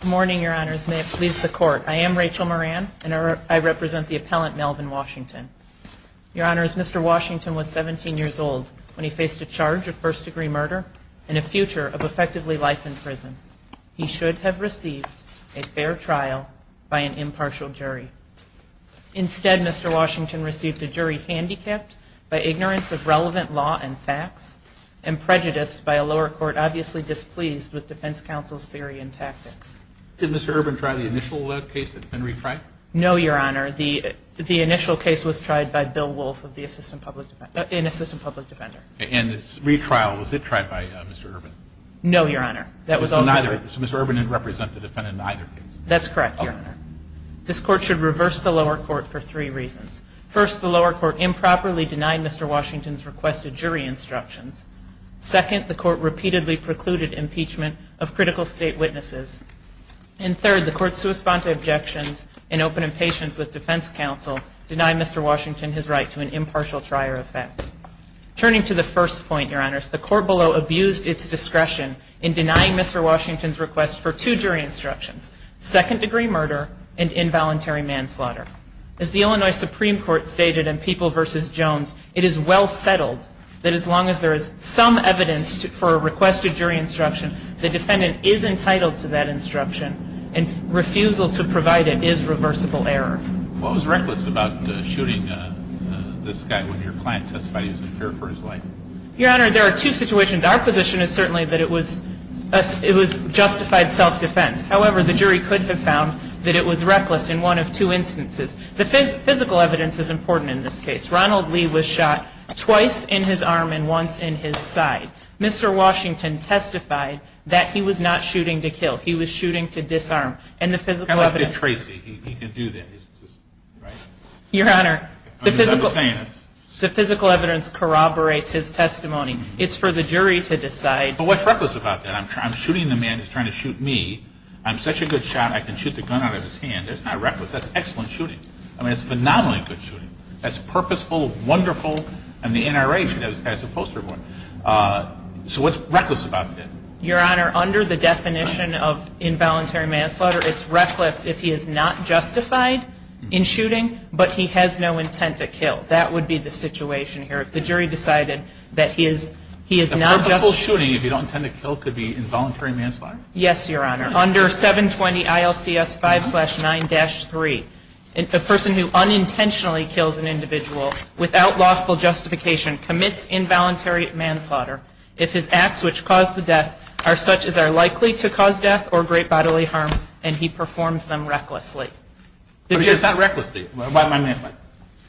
Good morning, Your Honors. May it please the Court, I am Rachel Moran, and I represent the appellant, Melvin Washington. Your Honors, Mr. Washington was 17 years old when he faced a charge of first-degree murder and a future of effectively life in prison. He should have received a fair trial by an impartial jury. Instead, Mr. Washington received a jury handicapped by ignorance of relevant law and facts, and prejudiced by a lower court obviously displeased with defense counsel's theory and tactics. Did Mr. Urban try the initial case that's been retried? No, Your Honor. The initial case was tried by Bill Wolfe, an assistant public defender. And the retrial, was it tried by Mr. Urban? No, Your Honor. So Mr. Urban didn't represent the defendant in either case? That's correct, Your Honor. This Court should deny Mr. Washington's request of jury instructions. Second, the Court repeatedly precluded impeachment of critical state witnesses. And third, the Court's sui sponte objections and open impatience with defense counsel deny Mr. Washington his right to an impartial trial effect. Turning to the first point, Your Honors, the Court below abused its discretion in denying Mr. Washington's request for two jury instructions, second-degree murder and involuntary manslaughter. As the Illinois Supreme Court stated in People v. Jones, it is well settled that as long as there is some evidence for a request of jury instruction, the defendant is entitled to that instruction. And refusal to provide it is reversible error. What was reckless about shooting this guy when your client testified he was impaired for his life? Your Honor, there are two situations. Our position is certainly that it was justified self-defense. However, the jury could have found that it was reckless in one of two instances. The physical evidence is important in this case. Ronald Lee was shot twice in his arm and once in his side. Mr. Washington testified that he was not shooting to kill. He was shooting to disarm. And the physical evidence Kind of like Dick Tracy. He can do that. Your Honor, the physical evidence corroborates his testimony. It's for the jury to decide. But what's reckless about that? I'm shooting the man who's trying to shoot me. I'm such a good shot, I can shoot the gun out of his hand. That's not reckless. That's excellent shooting. I mean, it's phenomenally good shooting. That's purposeful, wonderful, and the NRA should have this guy as a poster boy. So what's reckless about that? Your Honor, under the definition of involuntary manslaughter, it's reckless if he is not justified in shooting, but he has no intent to kill. That would be the situation here. If the jury decided that he is not justified in shooting, if he doesn't intend to kill, it could be involuntary manslaughter? Yes, Your Honor. Under 720 ILCS 5-9-3, a person who unintentionally kills an individual without logical justification commits involuntary manslaughter if his acts which cause the death are such as are likely to cause death or great bodily harm and he performs them recklessly. But it's not recklessly.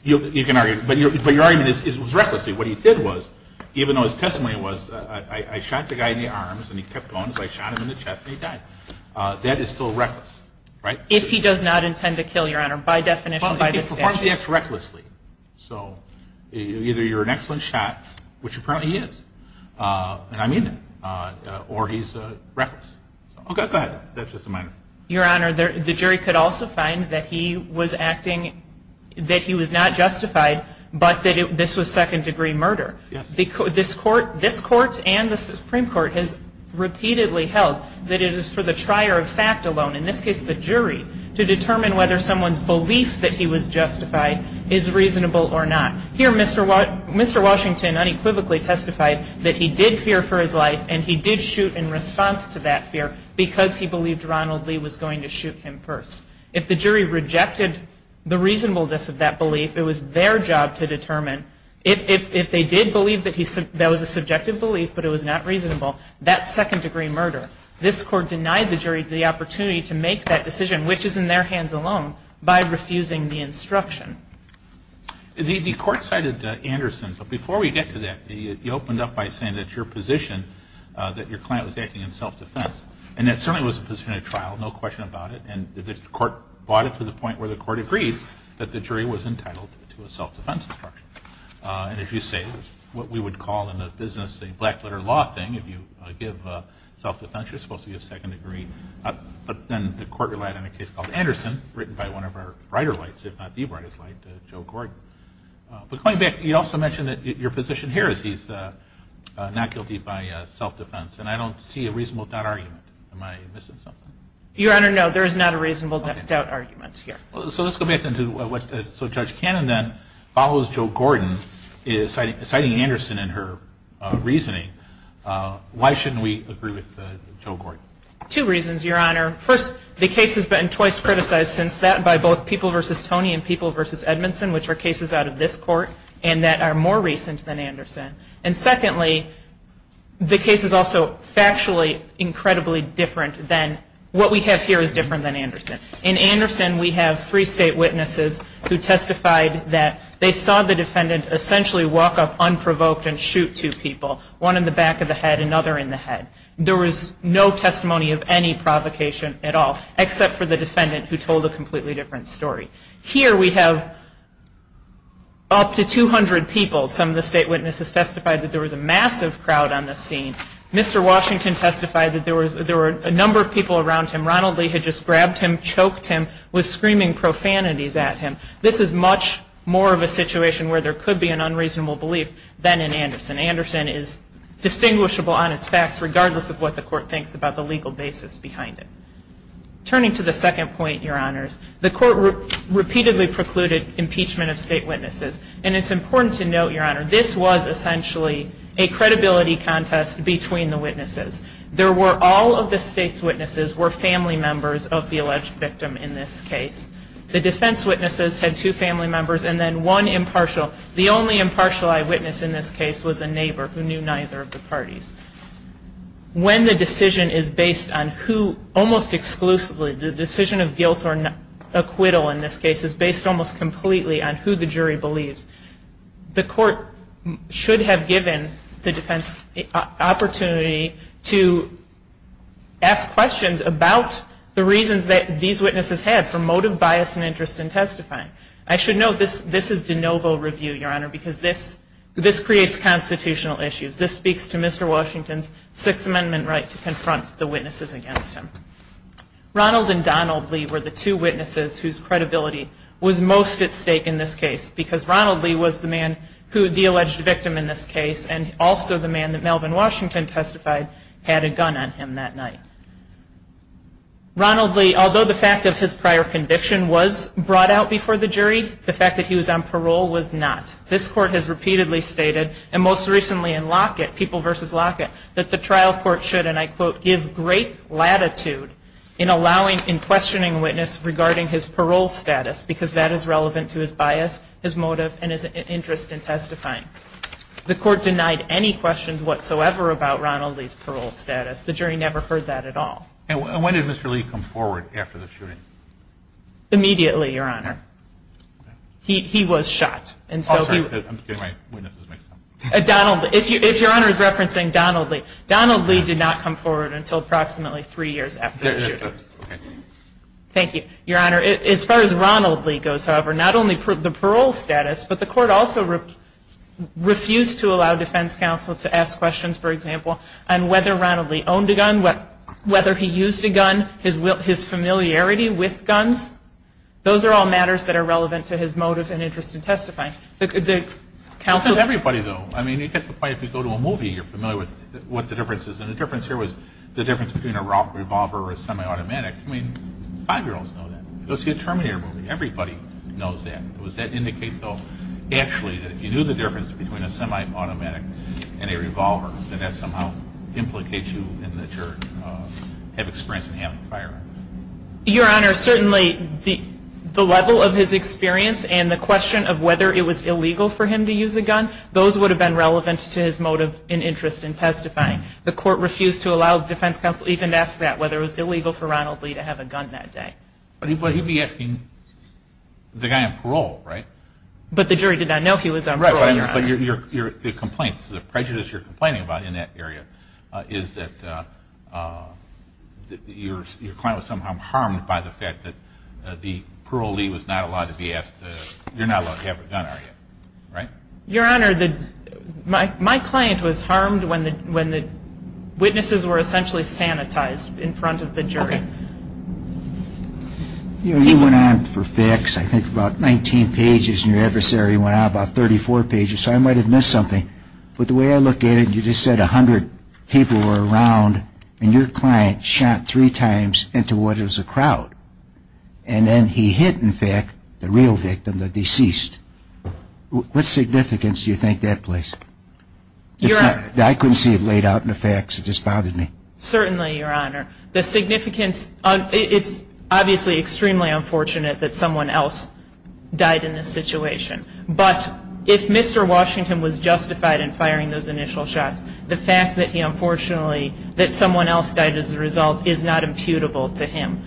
You can argue. But your argument is it was recklessly. What he did was, even though his testimony was, I shot the guy in the arms and he kept going, so I shot him in the chest and he died. That is still reckless, right? If he does not intend to kill, Your Honor, by definition, by the statute. Well, if he performs the acts recklessly. So either you're an excellent shot, which apparently he is, and I mean it, or he's reckless. Okay, go ahead. That's just a minor. Your Honor, the jury could also find that he was acting, that he was not justified, but that this was second degree murder. This Court and the Supreme Court has repeatedly held that it is for the trier of fact alone, in this case the jury, to determine whether someone's belief that he was justified is reasonable or not. Here Mr. Washington unequivocally testified that he did fear for his life and he did shoot in response to that fear because he believed Ronald Lee was going to shoot him first. If the jury rejected the reasonableness of that belief, it was their job to determine if they did believe that that was a subjective belief but it was not reasonable, that's second degree murder. This Court denied the jury the opportunity to make that decision, which is in their hands alone, by refusing the instruction. The Court cited Anderson, but before we get to that, you opened up by saying that your position, that your client was acting in self-defense. And that certainly was a position at trial, no question about it, and the Court brought it to the point where the Court agreed that the jury was entitled to a self-defense instruction. And as you say, what we would call in the business a black letter law thing, if you give self-defense, you're supposed to give second degree. But then the Court relied on a case called Anderson, written by one of our brighter lights, if not the brightest light, Joe Gordon. But going back, you also mentioned that your position here is he's not guilty by self-defense and I don't see a reasonable doubt argument. Am I missing something? Your Honor, no, there is not a reasonable doubt argument here. So let's go back to what, so Judge Cannon then follows Joe Gordon, citing Anderson in her reasoning. Why shouldn't we agree with Joe Gordon? Two reasons, Your Honor. First, the case has been twice criticized since that by both People v. Tony and People v. Edmondson, which are cases out of this Court and that are more recent than Anderson. And secondly, the case is also factually incredibly different than, what we have here is different than Anderson. In Anderson, we have three state witnesses who testified that they saw the defendant essentially walk up unprovoked and shoot two people, one in the back of the head, another in the head. There was no testimony of any provocation at all except for the defendant who told a completely different story. Here we have up to 200 people, some of the state witnesses testified that there was a number of people around him. Ronald Lee had just grabbed him, choked him, was screaming profanities at him. This is much more of a situation where there could be an unreasonable belief than in Anderson. Anderson is distinguishable on its facts regardless of what the Court thinks about the legal basis behind it. Turning to the second point, Your Honors, the Court repeatedly precluded impeachment of state witnesses. And it's important to note, Your Honor, this was essentially a credibility contest between the witnesses. There were, all of the state's witnesses were family members of the alleged victim in this case. The defense witnesses had two family members and then one impartial. The only impartial eyewitness in this case was a neighbor who knew neither of the parties. When the decision is based on who, almost exclusively, the decision of guilt or acquittal in this case is based almost completely on who the jury believes, the Court should have given the defense the opportunity to ask questions about the reasons that these witnesses had for motive, bias, and interest in testifying. I should note this is de novo review, Your Honor, because this creates constitutional issues. This speaks to Mr. Washington's Sixth Amendment right to confront the witnesses against him. Ronald and Donald Lee were the two witnesses whose credibility was most at stake in this case, and also the man that Melvin Washington testified had a gun on him that night. Ronald Lee, although the fact of his prior conviction was brought out before the jury, the fact that he was on parole was not. This Court has repeatedly stated, and most recently in Lockett, People v. Lockett, that the trial court should, and I quote, give great latitude in allowing, in questioning a witness regarding his parole status, because that is relevant to his bias, his motive, and his interest in testifying. The Court denied any questions whatsoever about Ronald Lee's parole status. The jury never heard that at all. And when did Mr. Lee come forward after the shooting? Immediately, Your Honor. He was shot, and so he was shot. I'm sorry, I'm getting my witnesses mixed up. Donald, if Your Honor is referencing Donald Lee, Donald Lee did not come forward until approximately three years after the shooting. Thank you. Your Honor, as far as Ronald Lee goes, however, not only the parole status, but the Court also refused to allow defense counsel to ask questions, for example, on whether Ronald Lee owned a gun, whether he used a gun, his familiarity with guns. Those are all matters that are relevant to his motive and interest in testifying. It's not everybody, though. I mean, you get to the point, if you go to a movie, you're familiar with what the difference is. And the difference here was the difference between a revolver or a semi-automatic. I mean, five-year-olds know that. You'll see a Terminator movie. Everybody knows that. Does that indicate, though, actually, that if you knew the difference between a semi-automatic and a revolver, that that somehow implicates you in that you have experience in having a firearm? Your Honor, certainly the level of his experience and the question of whether it was illegal for him to use a gun, those would have been relevant to his motive and interest in testifying. The Court refused to allow defense counsel even to ask that, whether it was illegal for Ronald Lee to have a gun that day. But he'd be asking the guy on parole, right? But the jury did not know he was on parole, Your Honor. Right. But the complaints, the prejudice you're complaining about in that area is that your client was somehow harmed by the fact that the parolee was not allowed to be asked, you're not allowed to have a gun on you, right? Your Honor, my client was harmed when the witnesses were essentially sanitized in front of the jury. You know, you went on for facts, I think, about 19 pages, and your adversary went on about 34 pages, so I might have missed something, but the way I look at it, you just said a hundred people were around, and your client shot three times into what was a crowd. And then he hit, in fact, the real victim, the deceased. What significance do you think that plays? I couldn't see it laid out in the facts, it just bothered me. Certainly, Your Honor. The significance, it's obviously extremely unfortunate that someone else died in this situation. But if Mr. Washington was justified in firing those initial shots, the fact that he unfortunately, that someone else died as a result is not imputable to him.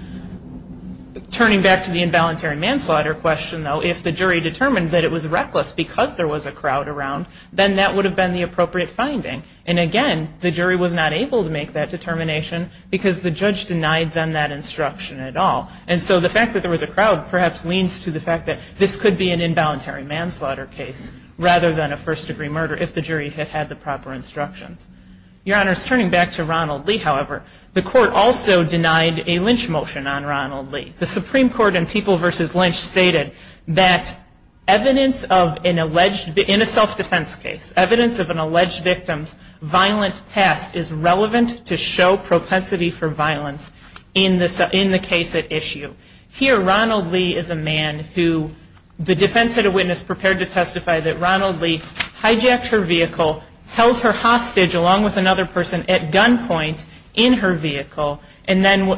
Turning back to the involuntary manslaughter question, though, if the jury determined that it was reckless because there was a crowd around, then that would have been the appropriate finding. And again, the jury was not able to make that determination because the judge denied them that instruction at all. And so the fact that there was a crowd perhaps leans to the fact that this could be an involuntary manslaughter case rather than a first-degree murder if the jury had had the proper instructions. Your Honor, turning back to Ronald Lee, however, the court also denied a Lynch motion on Ronald Lee. The Supreme Court in People v. Lynch stated that evidence of an alleged, in a self-defense case, evidence of an alleged victim's violent past is relevant to show propensity for violence in the case at issue. Here, Ronald Lee is a man who the defense had a witness prepared to testify that Ronald Lee hijacked her vehicle, held her hostage along with another person at gunpoint in her vehicle, and then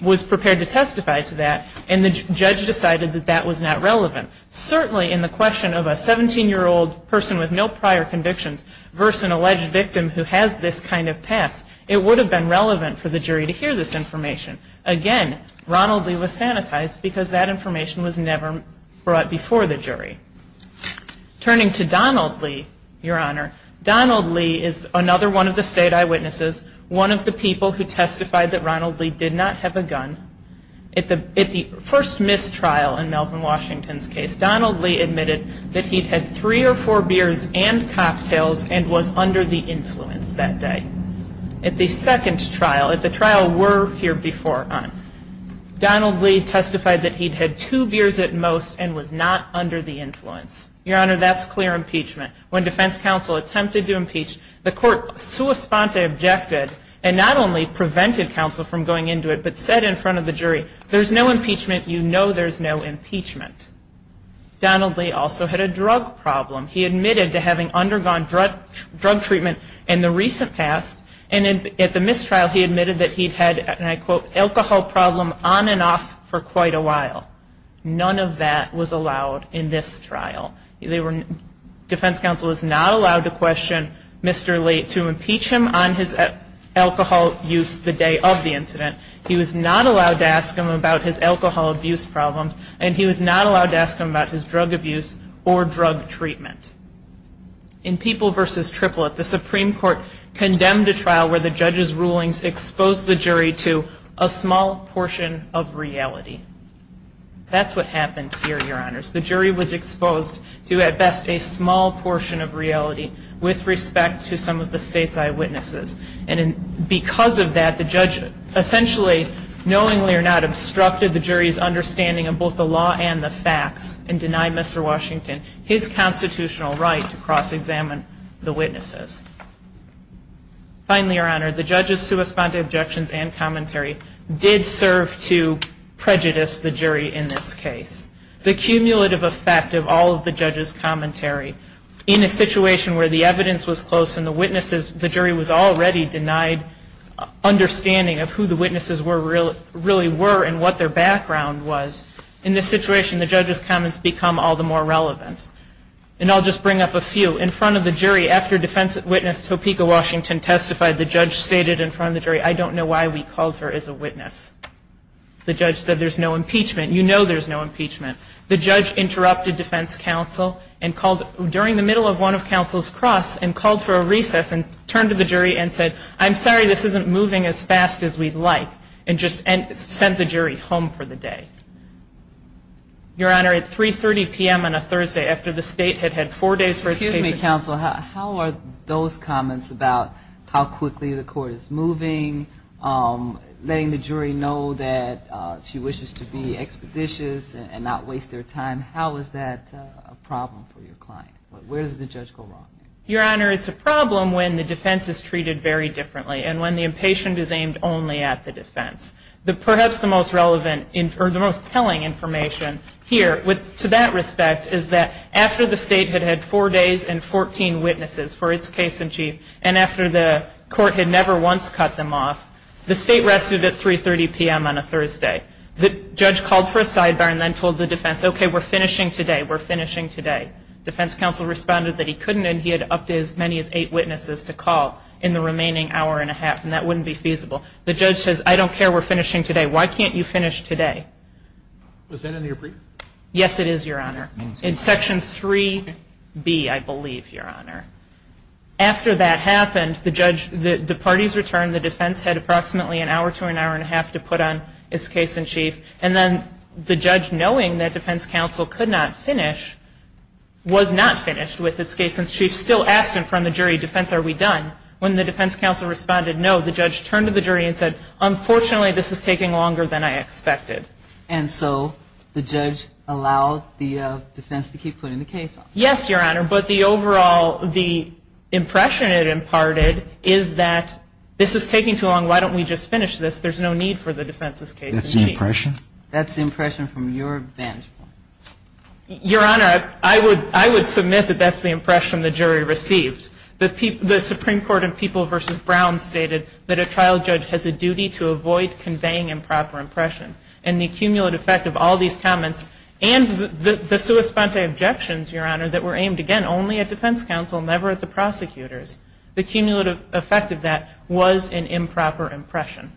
was prepared to testify to that. And the judge decided that that was not relevant. Certainly in the question of a 17-year-old person with no prior convictions versus an alleged victim who has this kind of past, it would have been relevant for the jury to hear this information. Again, Ronald Lee was sanitized because that information was never brought before the jury. Turning to Donald Lee, Your Honor, Donald Lee is another one of the state eyewitnesses, one of the people who testified that Ronald Lee did not have a gun. At the first mistrial in Melvin Washington's case, Donald Lee admitted that he'd had three or four beers and cocktails and was under the influence that day. At the second trial, at the trial were here before him, Donald Lee testified that he'd had two beers at most and was not under the influence. Your Honor, that's clear impeachment. When defense counsel attempted to impeach, the court sua sponte objected and not only prevented counsel from going into it, but said in front of the jury, there's no impeachment, you know there's no impeachment. Donald Lee also had a drug problem. He admitted to having undergone drug treatment in the recent past and at the mistrial he admitted that he'd had, and I quote, alcohol problem on and off for quite a while. None of that was allowed in this trial. They were, defense counsel was not allowed to question Mr. Lee to impeach him on his alcohol use the day of the incident. He was not allowed to ask him about his alcohol abuse problems and he was not allowed to ask him about his drug abuse or drug treatment. In People v. Triplett, the Supreme Court condemned the trial where the judge's rulings exposed the jury to a small portion of reality. That's what happened here, Your Honors. The jury was exposed to, at best, a small portion of reality with respect to some of the state's eyewitnesses. And because of that, the judge essentially, knowingly or not, obstructed the jury's understanding of both the law and the facts and denied Mr. Washington his constitutional right to cross-examine the witnesses. Finally, Your Honor, the judge's sua sponte objections and commentary did serve to prejudice the jury in this case. The cumulative effect of all of the judge's commentary, in a situation where the evidence was close and the jury was already denied understanding of who the witnesses really were and what their background was, in this situation the judge's comments become all the more relevant. And I'll just bring up a few. In front of the jury, after defense witness Topeka Washington testified, the judge stated in front of the jury, I don't know why we called her as a witness. The judge said there's no impeachment. You know there's no impeachment. The judge interrupted defense counsel during the middle of one of counsel's cross and called for a recess and turned to the jury and said, I'm sorry, this isn't moving as fast as we'd like. And just sent the jury home for the day. Your Honor, at 3.30 p.m. on a Thursday after the state had had four days for its case. Excuse me, counsel. How are those comments about how quickly the court is moving, letting the jury know that she wishes to be expeditious and not waste their time, how is that a problem for your client? Where does the judge go wrong? Your Honor, it's a problem when the defense is treated very differently and when the impatient is aimed only at the defense. Perhaps the most relevant, or the most telling information here, to that respect, is that after the state had had four days and 14 witnesses for its case in chief and after the court had never once cut them off, the state rested at 3.30 p.m. on a Thursday. The judge called for a sidebar and then told the defense, okay, we're finishing today, we're finishing today. Defense counsel responded that he couldn't and he had upped as many as eight witnesses to call in the remaining hour and a half and that wouldn't be feasible. The judge says, I don't care, we're finishing today. Why can't you finish today? Was that in your brief? Yes, it is, Your Honor. In section 3B, I believe, Your Honor. After that happened, the parties returned, the defense had approximately an hour to an hour and a half to put on its case in chief, and then the judge, knowing that defense counsel could not finish, was not finished with its case in chief, still asked in front of the jury, defense, are we done? When the defense counsel responded no, the judge turned to the jury and said, unfortunately, this is taking longer than I expected. And so the judge allowed the defense to keep putting the case on? Yes, Your Honor, but the overall, the impression it imparted is that this is taking too long. Why don't we just finish this? There's no need for the defense's case in chief. That's the impression? That's the impression from your vantage point. Your Honor, I would submit that that's the impression the jury received. The Supreme Court in People v. Brown stated that a trial judge has a duty to avoid conveying improper impressions. And the cumulative effect of all these comments and the sua sponte objections, Your Honor, that were aimed, again, only at defense counsel, never at the prosecutors, the cumulative effect of that was an improper impression.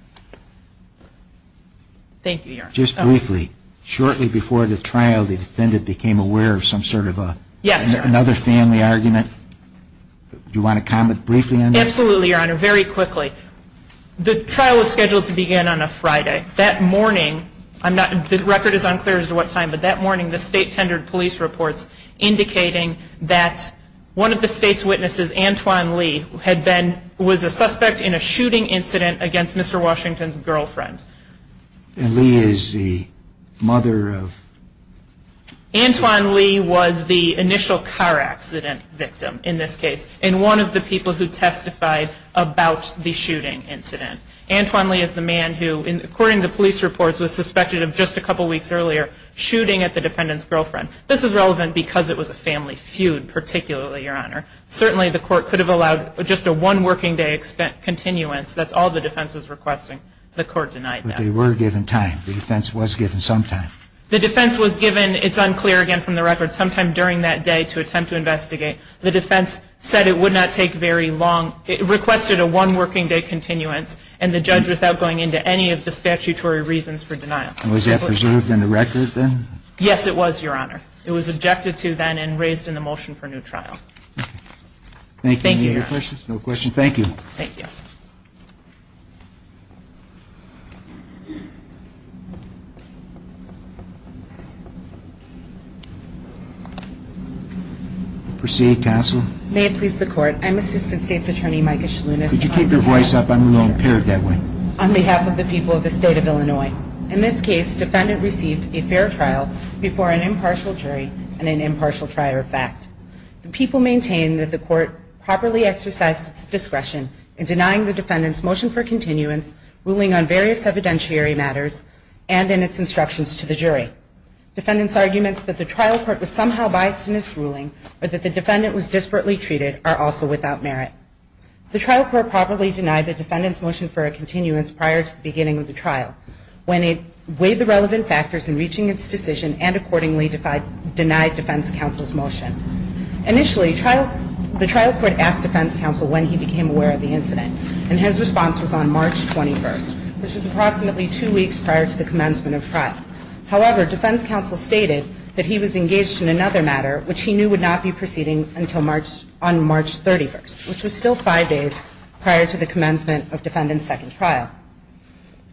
Thank you, Your Honor. Just briefly, shortly before the trial, the defendant became aware of some sort of another family argument? Yes, sir. Do you want to comment briefly on this? Absolutely, Your Honor. Very quickly. The trial was scheduled to begin on a Friday. That morning, the record is unclear as to what time, but that morning, the state tendered police reports indicating that one of the state's witnesses, Antoine Lee, was a suspect in a shooting incident against Mr. Washington's girlfriend. And Lee is the mother of? Antoine Lee was the initial car accident victim in this case, and one of the people who testified about the shooting incident. Antoine Lee is the man who, according to police reports, was suspected of, just a couple weeks earlier, shooting at the defendant's girlfriend. This is relevant because it was a family feud, particularly, Your Honor. Certainly, the court could have allowed just a one-working-day continuance. That's all the defense was requesting. The court denied that. But they were given time. The defense was given some time. The defense was given, it's unclear again from the record, some time during that day to attempt to investigate. The defense said it would not take very long. It requested a one-working-day continuance, and the judge, without going into any of the statutory reasons for denial. And was that preserved in the record, then? Yes, it was, Your Honor. It was objected to, then, and raised in the motion for new trial. Thank you. Thank you, Your Honor. Any other questions? No questions. Thank you. Proceed, counsel. May it please the Court. I'm Assistant State's Attorney at Law. Could you keep your voice up? I'm a little impaired that way. On behalf of the people of the State of Illinois, in this case, defendant received a fair trial before an impartial jury and an impartial trier of fact. The people maintain that the court properly exercised its discretion in denying the defendant's motion for continuance, ruling on various evidentiary matters, and in its instructions to the jury. Defendant's arguments that the trial court was somehow biased in its ruling, or that the defendant was disparately treated, are also without merit. The trial court properly denied the defendant's motion for a continuance prior to the beginning of the trial, when it weighed the relevant factors in reaching its decision, and accordingly denied defense counsel's motion. Initially, the trial court asked defense counsel when he became aware of the incident. And his response was on March 21st, which was approximately two weeks prior to the commencement of trial. However, defense counsel stated that he was engaged in another matter, which he knew would not be proceeding on March 31st, which was still five days prior to the commencement of defendant's second trial.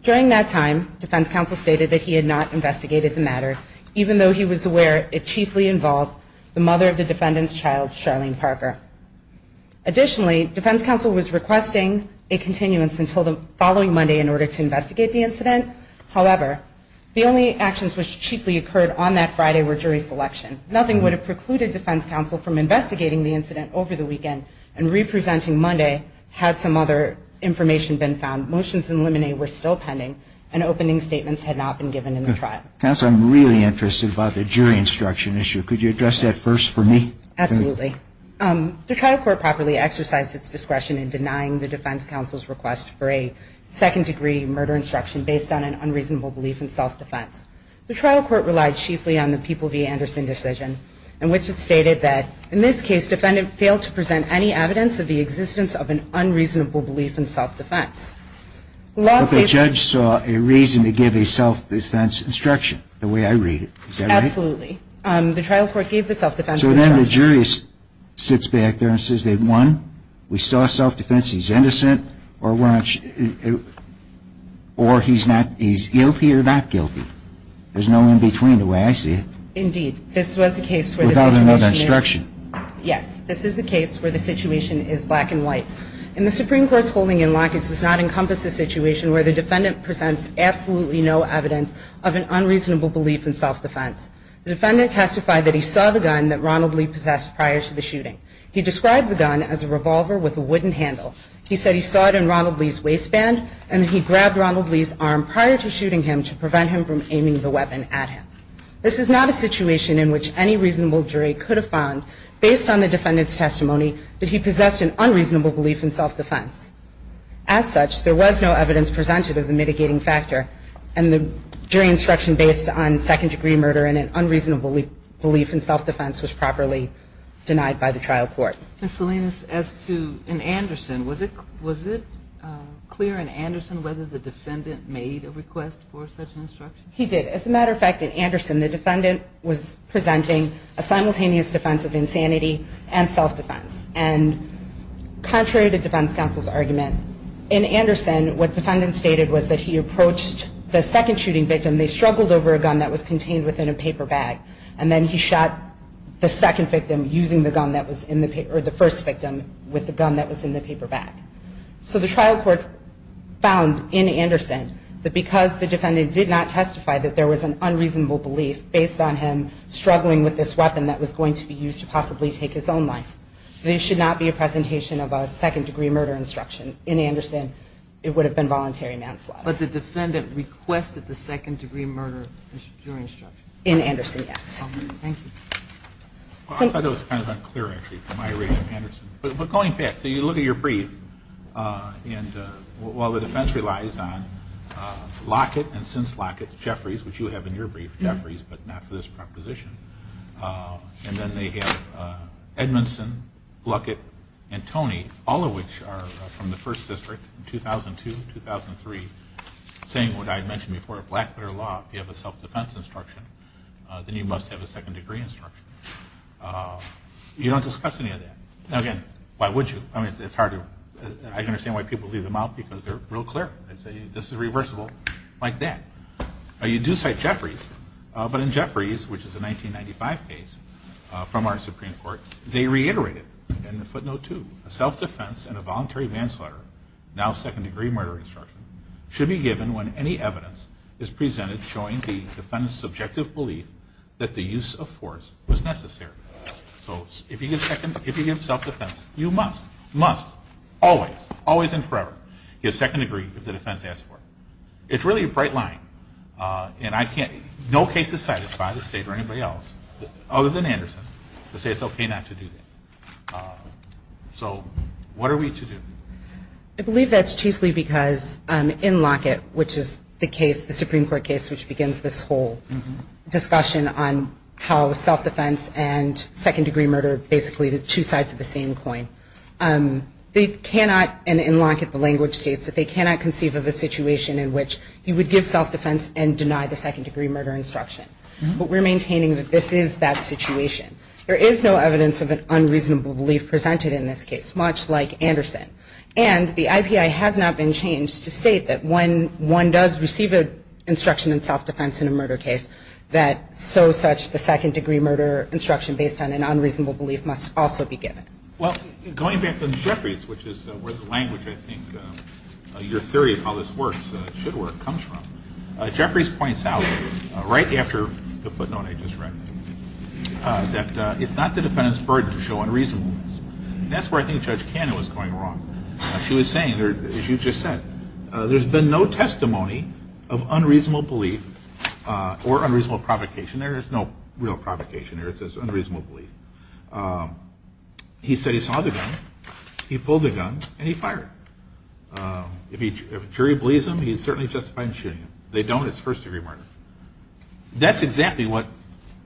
During that time, defense counsel stated that he had not investigated the matter, even though he was aware it chiefly involved the mother of the defendant's child, Charlene Parker. Additionally, defense counsel was requesting a continuance until the following Monday in order to investigate the incident. However, the only actions which chiefly occurred on that Friday were jury selection. Nothing would have precluded defense counsel from investigating the incident over the weekend and re-presenting Monday had some other information been found. Motions in limine were still pending, and opening statements had not been given in the trial. Counsel, I'm really interested about the jury instruction issue. Could you address that first for me? Absolutely. The trial court properly exercised its discretion in denying the defense counsel's request for a second-degree murder instruction based on an unreasonable belief in self-defense. The trial court relied chiefly on the People v. Anderson decision, in which it stated that in this case, defendant failed to present any evidence of the existence of an unreasonable belief in self-defense. But the judge saw a reason to give a self-defense instruction, the way I read it. Is that right? Absolutely. The trial court gave the self-defense instruction. So then the jury sits back there and says, they've won, we saw self-defense, he's innocent, or he's guilty or not guilty. There's no in-between the way I see it. Indeed. This was a case where the situation is black and white. In the Supreme Court's holding in lockets does not encompass a situation where the defendant presents absolutely no evidence of an unreasonable belief in self-defense. The defendant testified that he saw the gun that Ronald Lee possessed prior to the shooting. He described the gun as a revolver with a wooden handle. He said he saw it in Ronald Lee's waistband and he grabbed Ronald Lee's arm prior to shooting him to prevent him from aiming the weapon at him. This is not a situation in which any reasonable jury could have found, based on the defendant's testimony, that he possessed an unreasonable belief in self-defense. As such, there was no evidence presented of the mitigating factor and the jury instruction based on second-degree murder and an unreasonable belief in self-defense was properly denied by the trial court. Ms. Salinas, as to in Anderson, was it clear in Anderson whether the defendant made a request for such an instruction? He did. As a matter of fact, in Anderson, the defendant was presenting a simultaneous defense of insanity and self-defense. And contrary to defense counsel's argument, in Anderson, what the defendant stated was that he approached the second shooting victim. They struggled over a gun that was contained within a paper bag. And then he shot the second victim using the gun that was in the paper, or the first victim with the gun that was in the paper bag. So the trial court found, in Anderson, that because the defendant did not testify that there was an unreasonable belief based on him struggling with this weapon that was going to be used to possibly take his own life, there should not be a presentation of a second-degree murder instruction. In Anderson, it would have been voluntary manslaughter. But the defendant requested the second-degree murder jury instruction? In Anderson, yes. Thank you. I thought that was kind of unclear, actually, from my reading of Anderson. But going back, so you look at your brief, and while the defense relies on Lockett and since Lockett, Jeffries, which you have in your brief, Jeffries, but not for this proposition. And then they have Edmondson, Lockett, and Toney, all of which are from the First District in 2002, 2003, saying what I had mentioned before, Blackwater Law, if you have a self-defense instruction, then you must have a second-degree instruction. You don't discuss any of that. Now, again, why would you? I mean, it's hard to, I can understand why people leave them out because they're real clear. They say, this is reversible, like that. You do cite Jeffries, but in Jeffries, which is a 1995 case from our Supreme Court, they reiterated in footnote two, a self-defense and a voluntary manslaughter, now second-degree murder instruction, should be given when any evidence is presented showing the defendant's subjective belief that the use of force was necessary. So if you give self-defense, you must, must, always, always and forever, give second-degree if the defense asks for it. It's really a bright line, and I can't, no case is cited by the state or anybody else other than Anderson to say it's okay not to do that. So what are we to do? I believe that's chiefly because in Lockett, which is the case, the Supreme Court case which begins this whole discussion on how self-defense and second-degree murder are basically the two sides of the same coin, they cannot, and in Lockett, the language states that they cannot conceive of a situation in which you would give self-defense and deny the second-degree murder instruction, but we're maintaining that this is that situation. There is no evidence of an unreasonable belief presented in this case, much like Anderson, and the IPI has not been changed to state that when one does receive an instruction in self-defense in a murder case, that so such the second-degree murder instruction based on an unreasonable belief must also be given. Well, going back to Jeffries, which is where the language, I think, your theory of how this works, should work, comes from, Jeffries points out, right after the footnote I just read, that it's not the defendant's burden to show unreasonableness. That's where I think Judge Cannon was going wrong. She was saying, as you just said, there's been no testimony of unreasonable belief or unreasonable provocation. There is no real provocation here. It's just unreasonable belief. He said he saw the gun, he pulled the gun, and he fired it. If a jury believes him, he's certainly justified in shooting him. They don't. It's first-degree murder. That's exactly what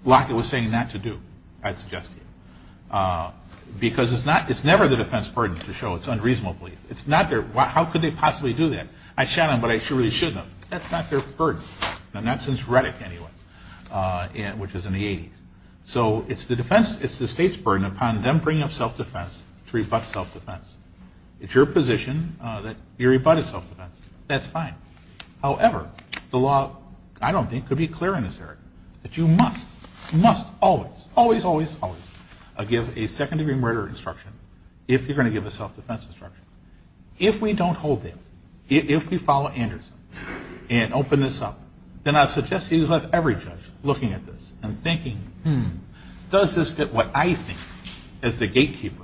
Lockett was saying not to do, I'd suggest to you, because it's never the defense's burden to show it's unreasonable belief. It's not their, how could they possibly do that? I shot him, but I surely shouldn't have. That's not their burden, not since Reddick, anyway, which was in the 80s. So it's the defense, it's the state's burden upon them bringing up self-defense to rebut self-defense. It's your position that you rebutted self-defense. That's fine. However, the law, I don't think, could be clearer in this area, that you must, must always, always, always, always give a second-degree murder instruction if you're going to give a self-defense instruction. If we don't hold that, if we follow Anderson and open this up, then I suggest you have every judge looking at this and thinking, hmm, does this fit what I think as the gatekeeper?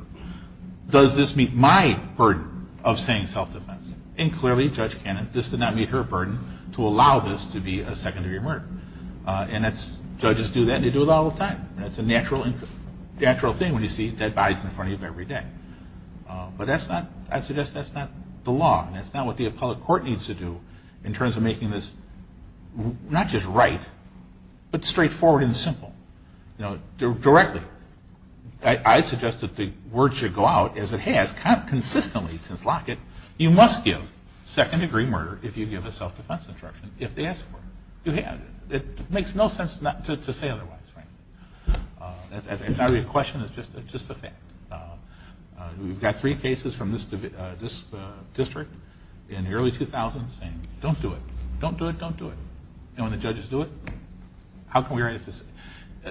Does this meet my burden of saying self-defense? And clearly, Judge Cannon, this did not meet her burden to allow this to be a second-degree murder. And judges do that, and they do it all the time. That's a natural thing when you see dead bodies in front of you every day. But that's not, I suggest that's not the law, and that's not what the appellate court needs to do in terms of making this not just right, but straightforward and simple, directly. I suggest that the word should go out, as it has consistently since Lockett, you must give second-degree murder if you give a self-defense instruction, if they ask for it. It makes no sense to say otherwise, frankly. It's not really a question, it's just a fact. We've got three cases from this district in the early 2000s saying, don't do it, don't do it, don't do it. And when the judges do it, how can we write it?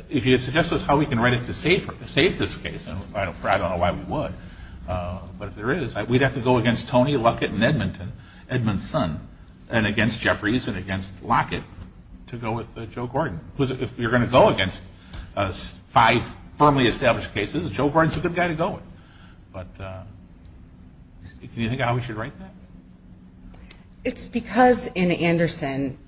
If you suggest to us how we can write it to save this case, and I don't know why we would, but if there is, we'd have to go against Tony Lockett and Edmondson, and against Jeffries and against Lockett to go with Joe Gordon. If you're going to go against five firmly established cases, Joe Gordon's a good guy to go with. But do you think how we should write that? It's because in Anderson,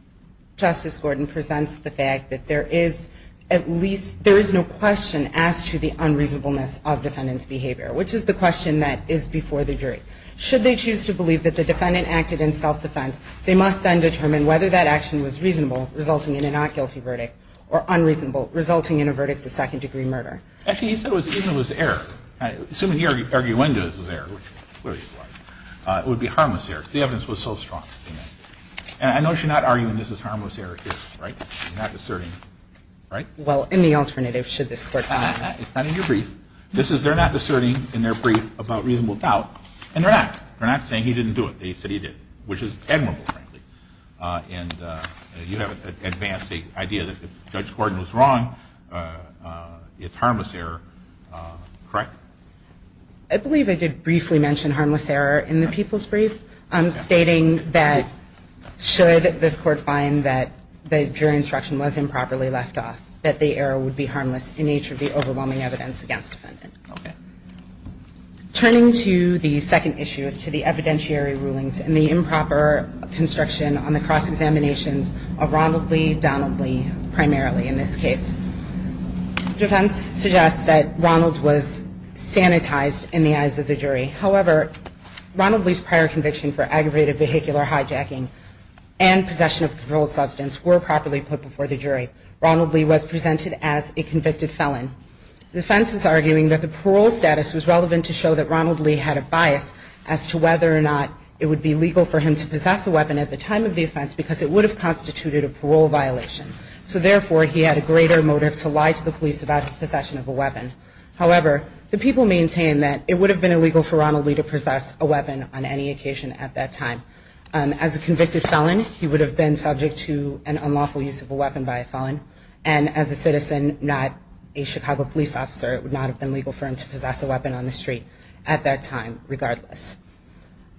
Justice Gordon presents the fact that there is at least, there is no question as to the unreasonableness of defendant's behavior, which is the question that is before the jury. Should they choose to believe that the defendant acted in self-defense, they must then determine whether that action was reasonable, resulting in a not guilty verdict, or unreasonable, resulting in a verdict of second-degree murder. Actually, he said it was error. Assuming he argued Wendell's was error, which clearly it was, it would be harmless error. The evidence was so strong. And I know I should not argue that this is harmless error here, right? I'm not asserting. Right? Well, in the alternative, should this court find that? It's not in your brief. This is, they're not asserting in their brief about reasonable doubt. And they're not. They're not saying he didn't do it. They said he did. Which is admirable, frankly. And you have advanced the idea that if Judge Gordon was wrong, it's harmless error, correct? I believe I did briefly mention harmless error in the people's brief, stating that should this court find that the jury instruction was improperly left off, that the error would be harmless in nature of the overwhelming evidence against defendant. Turning to the second issue, is to the evidentiary rulings and the improper construction on the cross-examinations of Ronald Lee, Donald Lee, primarily in this case. Defense suggests that Ronald was sanitized in the eyes of the jury. However, Ronald Lee's prior conviction for aggravated vehicular hijacking and possession of a controlled substance were properly put before the jury. Ronald Lee was presented as a convicted felon. The defense is arguing that the parole status was relevant to show that Ronald Lee had a bias as to whether or not it would be legal for him to possess a weapon at the time of the offense because it would have constituted a parole violation. So therefore, he had a greater motive to lie to the police about his possession of a weapon. However, the people maintain that it would have been illegal for Ronald Lee to possess a weapon on any occasion at that time. As a convicted felon, he would have been subject to an unlawful use of a weapon by a felon. And as a citizen, not a Chicago police officer, it would not have been legal for him to possess a weapon on the street at that time regardless.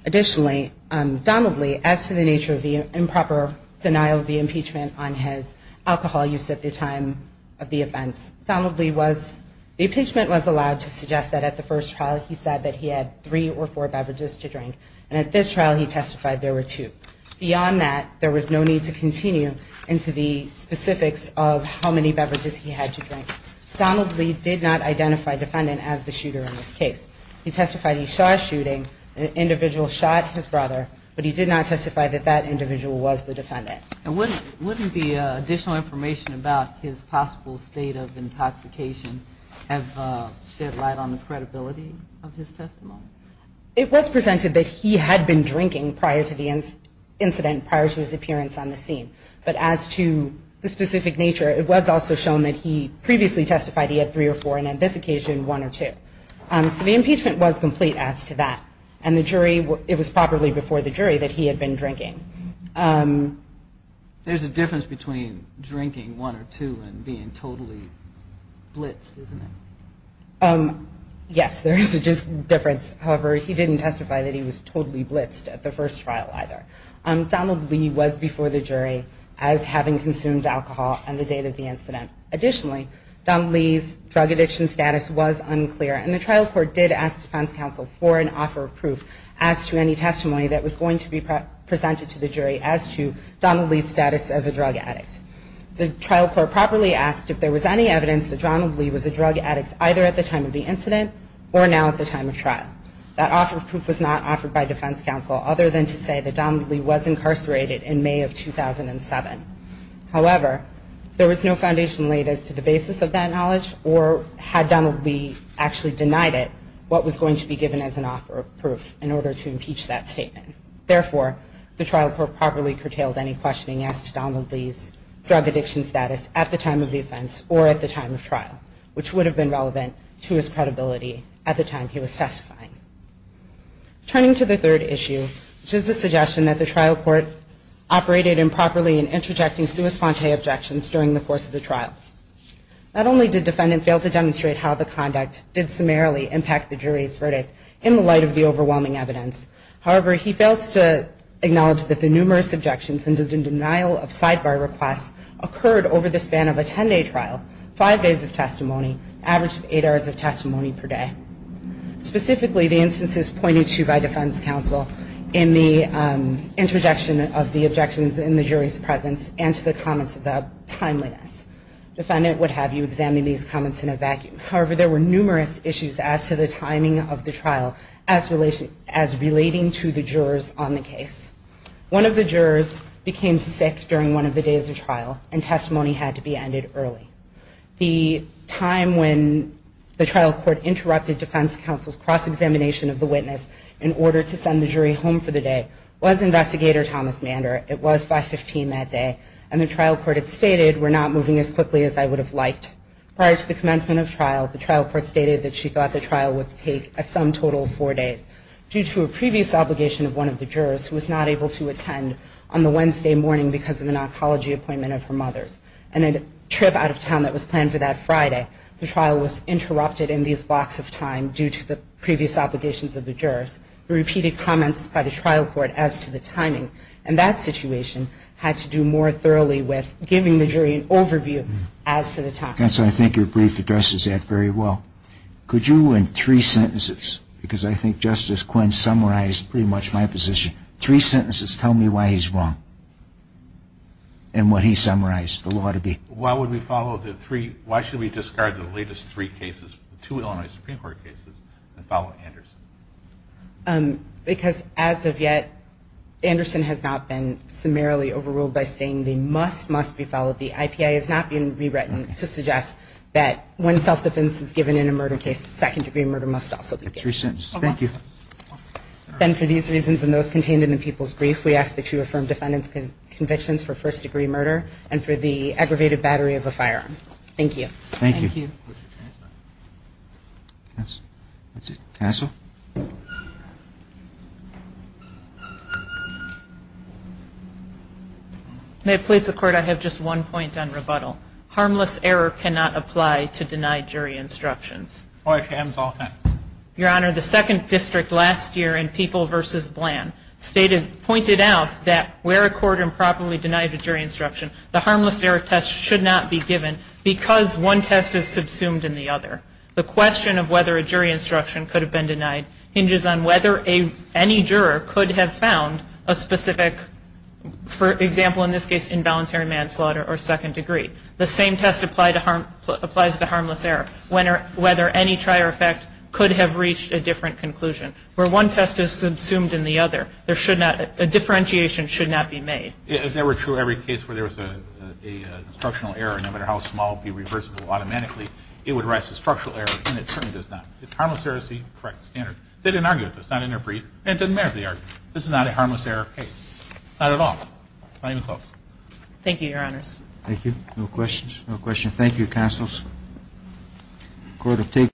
Additionally, Donald Lee, as to the nature of the improper denial of the impeachment on his alcohol use at the time of the offense, the impeachment was allowed to suggest that at the first trial, he said that he had three or four beverages to drink, and at this trial, he testified there were two. Beyond that, there was no need to continue into the specifics of how many beverages he had to drink. Donald Lee did not identify the defendant as the shooter in this case. He testified he saw a shooting, an individual shot his brother, but he did not testify that that individual was the defendant. And wouldn't the additional information about his possible state of intoxication have shed light on the credibility of his testimony? It was presented that he had been drinking prior to the incident, prior to his appearance on the scene. But as to the specific nature, it was also shown that he previously testified he had three or four, and on this occasion, one or two. So the impeachment was complete as to that. And the jury, it was probably before the jury that he had been drinking. There's a difference between drinking one or two and being totally blitzed, isn't it? Yes, there is a difference. However, he didn't testify that he was totally blitzed at the first trial either. Donald Lee was before the jury as having consumed alcohol on the date of the incident. Additionally, Donald Lee's drug addiction status was unclear, and the trial court did ask defense counsel for an offer of proof as to any testimony that was going to be presented to the jury as to Donald Lee's status as a drug addict. The trial court properly asked if there was any evidence that Donald Lee was a drug addict either at the time of the incident or now at the time of trial. That offer of proof was not offered by defense counsel other than to say that Donald Lee was incarcerated in May of 2007. However, there was no foundation laid as to the basis of that knowledge, or had Donald Lee actually denied it, what was going to be given as an offer of proof in order to impeach that statement. Therefore, the trial court properly curtailed any questioning as to Donald Lee's drug addiction status at the time of the offense or at the time of trial, which would have been relevant to his credibility at the time he was testifying. Turning to the third issue, which is the suggestion that the trial court operated improperly in interjecting sua sponte objections during the course of the trial. Not only did defendant fail to demonstrate how the conduct did summarily impact the jury's verdict in the light of the overwhelming evidence, however, he fails to acknowledge that the numerous objections and the denial of sidebar requests occurred over the span of a 10-day trial, five days of testimony, average of eight hours of testimony per day. Specifically, the instances pointed to by defense counsel in the interjection of the objections in the jury's presence and to the comments of the timeliness. Defendant would have you examine these comments in a vacuum. However, there were numerous issues as to the timing of the trial as relating to the jurors on the case. One of the jurors became sick during one of the days of trial, and testimony had to be ended early. The time when the trial court interrupted defense counsel's cross-examination of the it was by 15 that day, and the trial court had stated, we're not moving as quickly as I would have liked. Prior to the commencement of trial, the trial court stated that she thought the trial would take a sum total of four days due to a previous obligation of one of the jurors, who was not able to attend on the Wednesday morning because of an oncology appointment of her mother's. And a trip out of town that was planned for that Friday, the trial was interrupted in these blocks of time due to the previous obligations of the jurors, who repeated comments by the trial court as to the timing. And that situation had to do more thoroughly with giving the jury an overview as to the timing. And so I think your brief addresses that very well. Could you in three sentences, because I think Justice Quinn summarized pretty much my position, three sentences tell me why he's wrong, and what he summarized the law to be. Why would we follow the three, why should we discard the latest three cases, two Illinois Supreme Court cases, and follow Anderson? Because as of yet, Anderson has not been summarily overruled by saying the must must be followed. The IPA is not being rewritten to suggest that when self-defense is given in a murder case, second degree murder must also be given. Three sentences. Thank you. Then for these reasons and those contained in the people's brief, we ask that you affirm defendant's convictions for first degree murder and for the aggravated battery of a firearm. Thank you. Thank you. Counsel? May it please the Court, I have just one point on rebuttal. Harmless error cannot apply to denied jury instructions. Oh, it can. It's all time. Your Honor, the second district last year in People v. Bland stated, pointed out that where a court improperly denied a jury instruction, the harmless error test should not be given because one test is subsumed in the other. The question of whether a jury instruction could have been denied hinges on whether any juror could have found a specific, for example in this case, involuntary manslaughter or second degree. The same test applies to harmless error, whether any trier effect could have reached a different conclusion. Where one test is subsumed in the other, there should not, a differentiation should not be made. If that were true in every case where there was an instructional error, no matter how small it would be reversible automatically, it would rise to structural error and it certainly does not. Harmless error is the correct standard. They didn't argue it. It's not in their brief. It doesn't matter if they argue it. This is not a harmless error case. Not at all. Not even close. Thank you, Your Honors. Thank you. No questions? No questions? Thank you, Counsel. The Court will take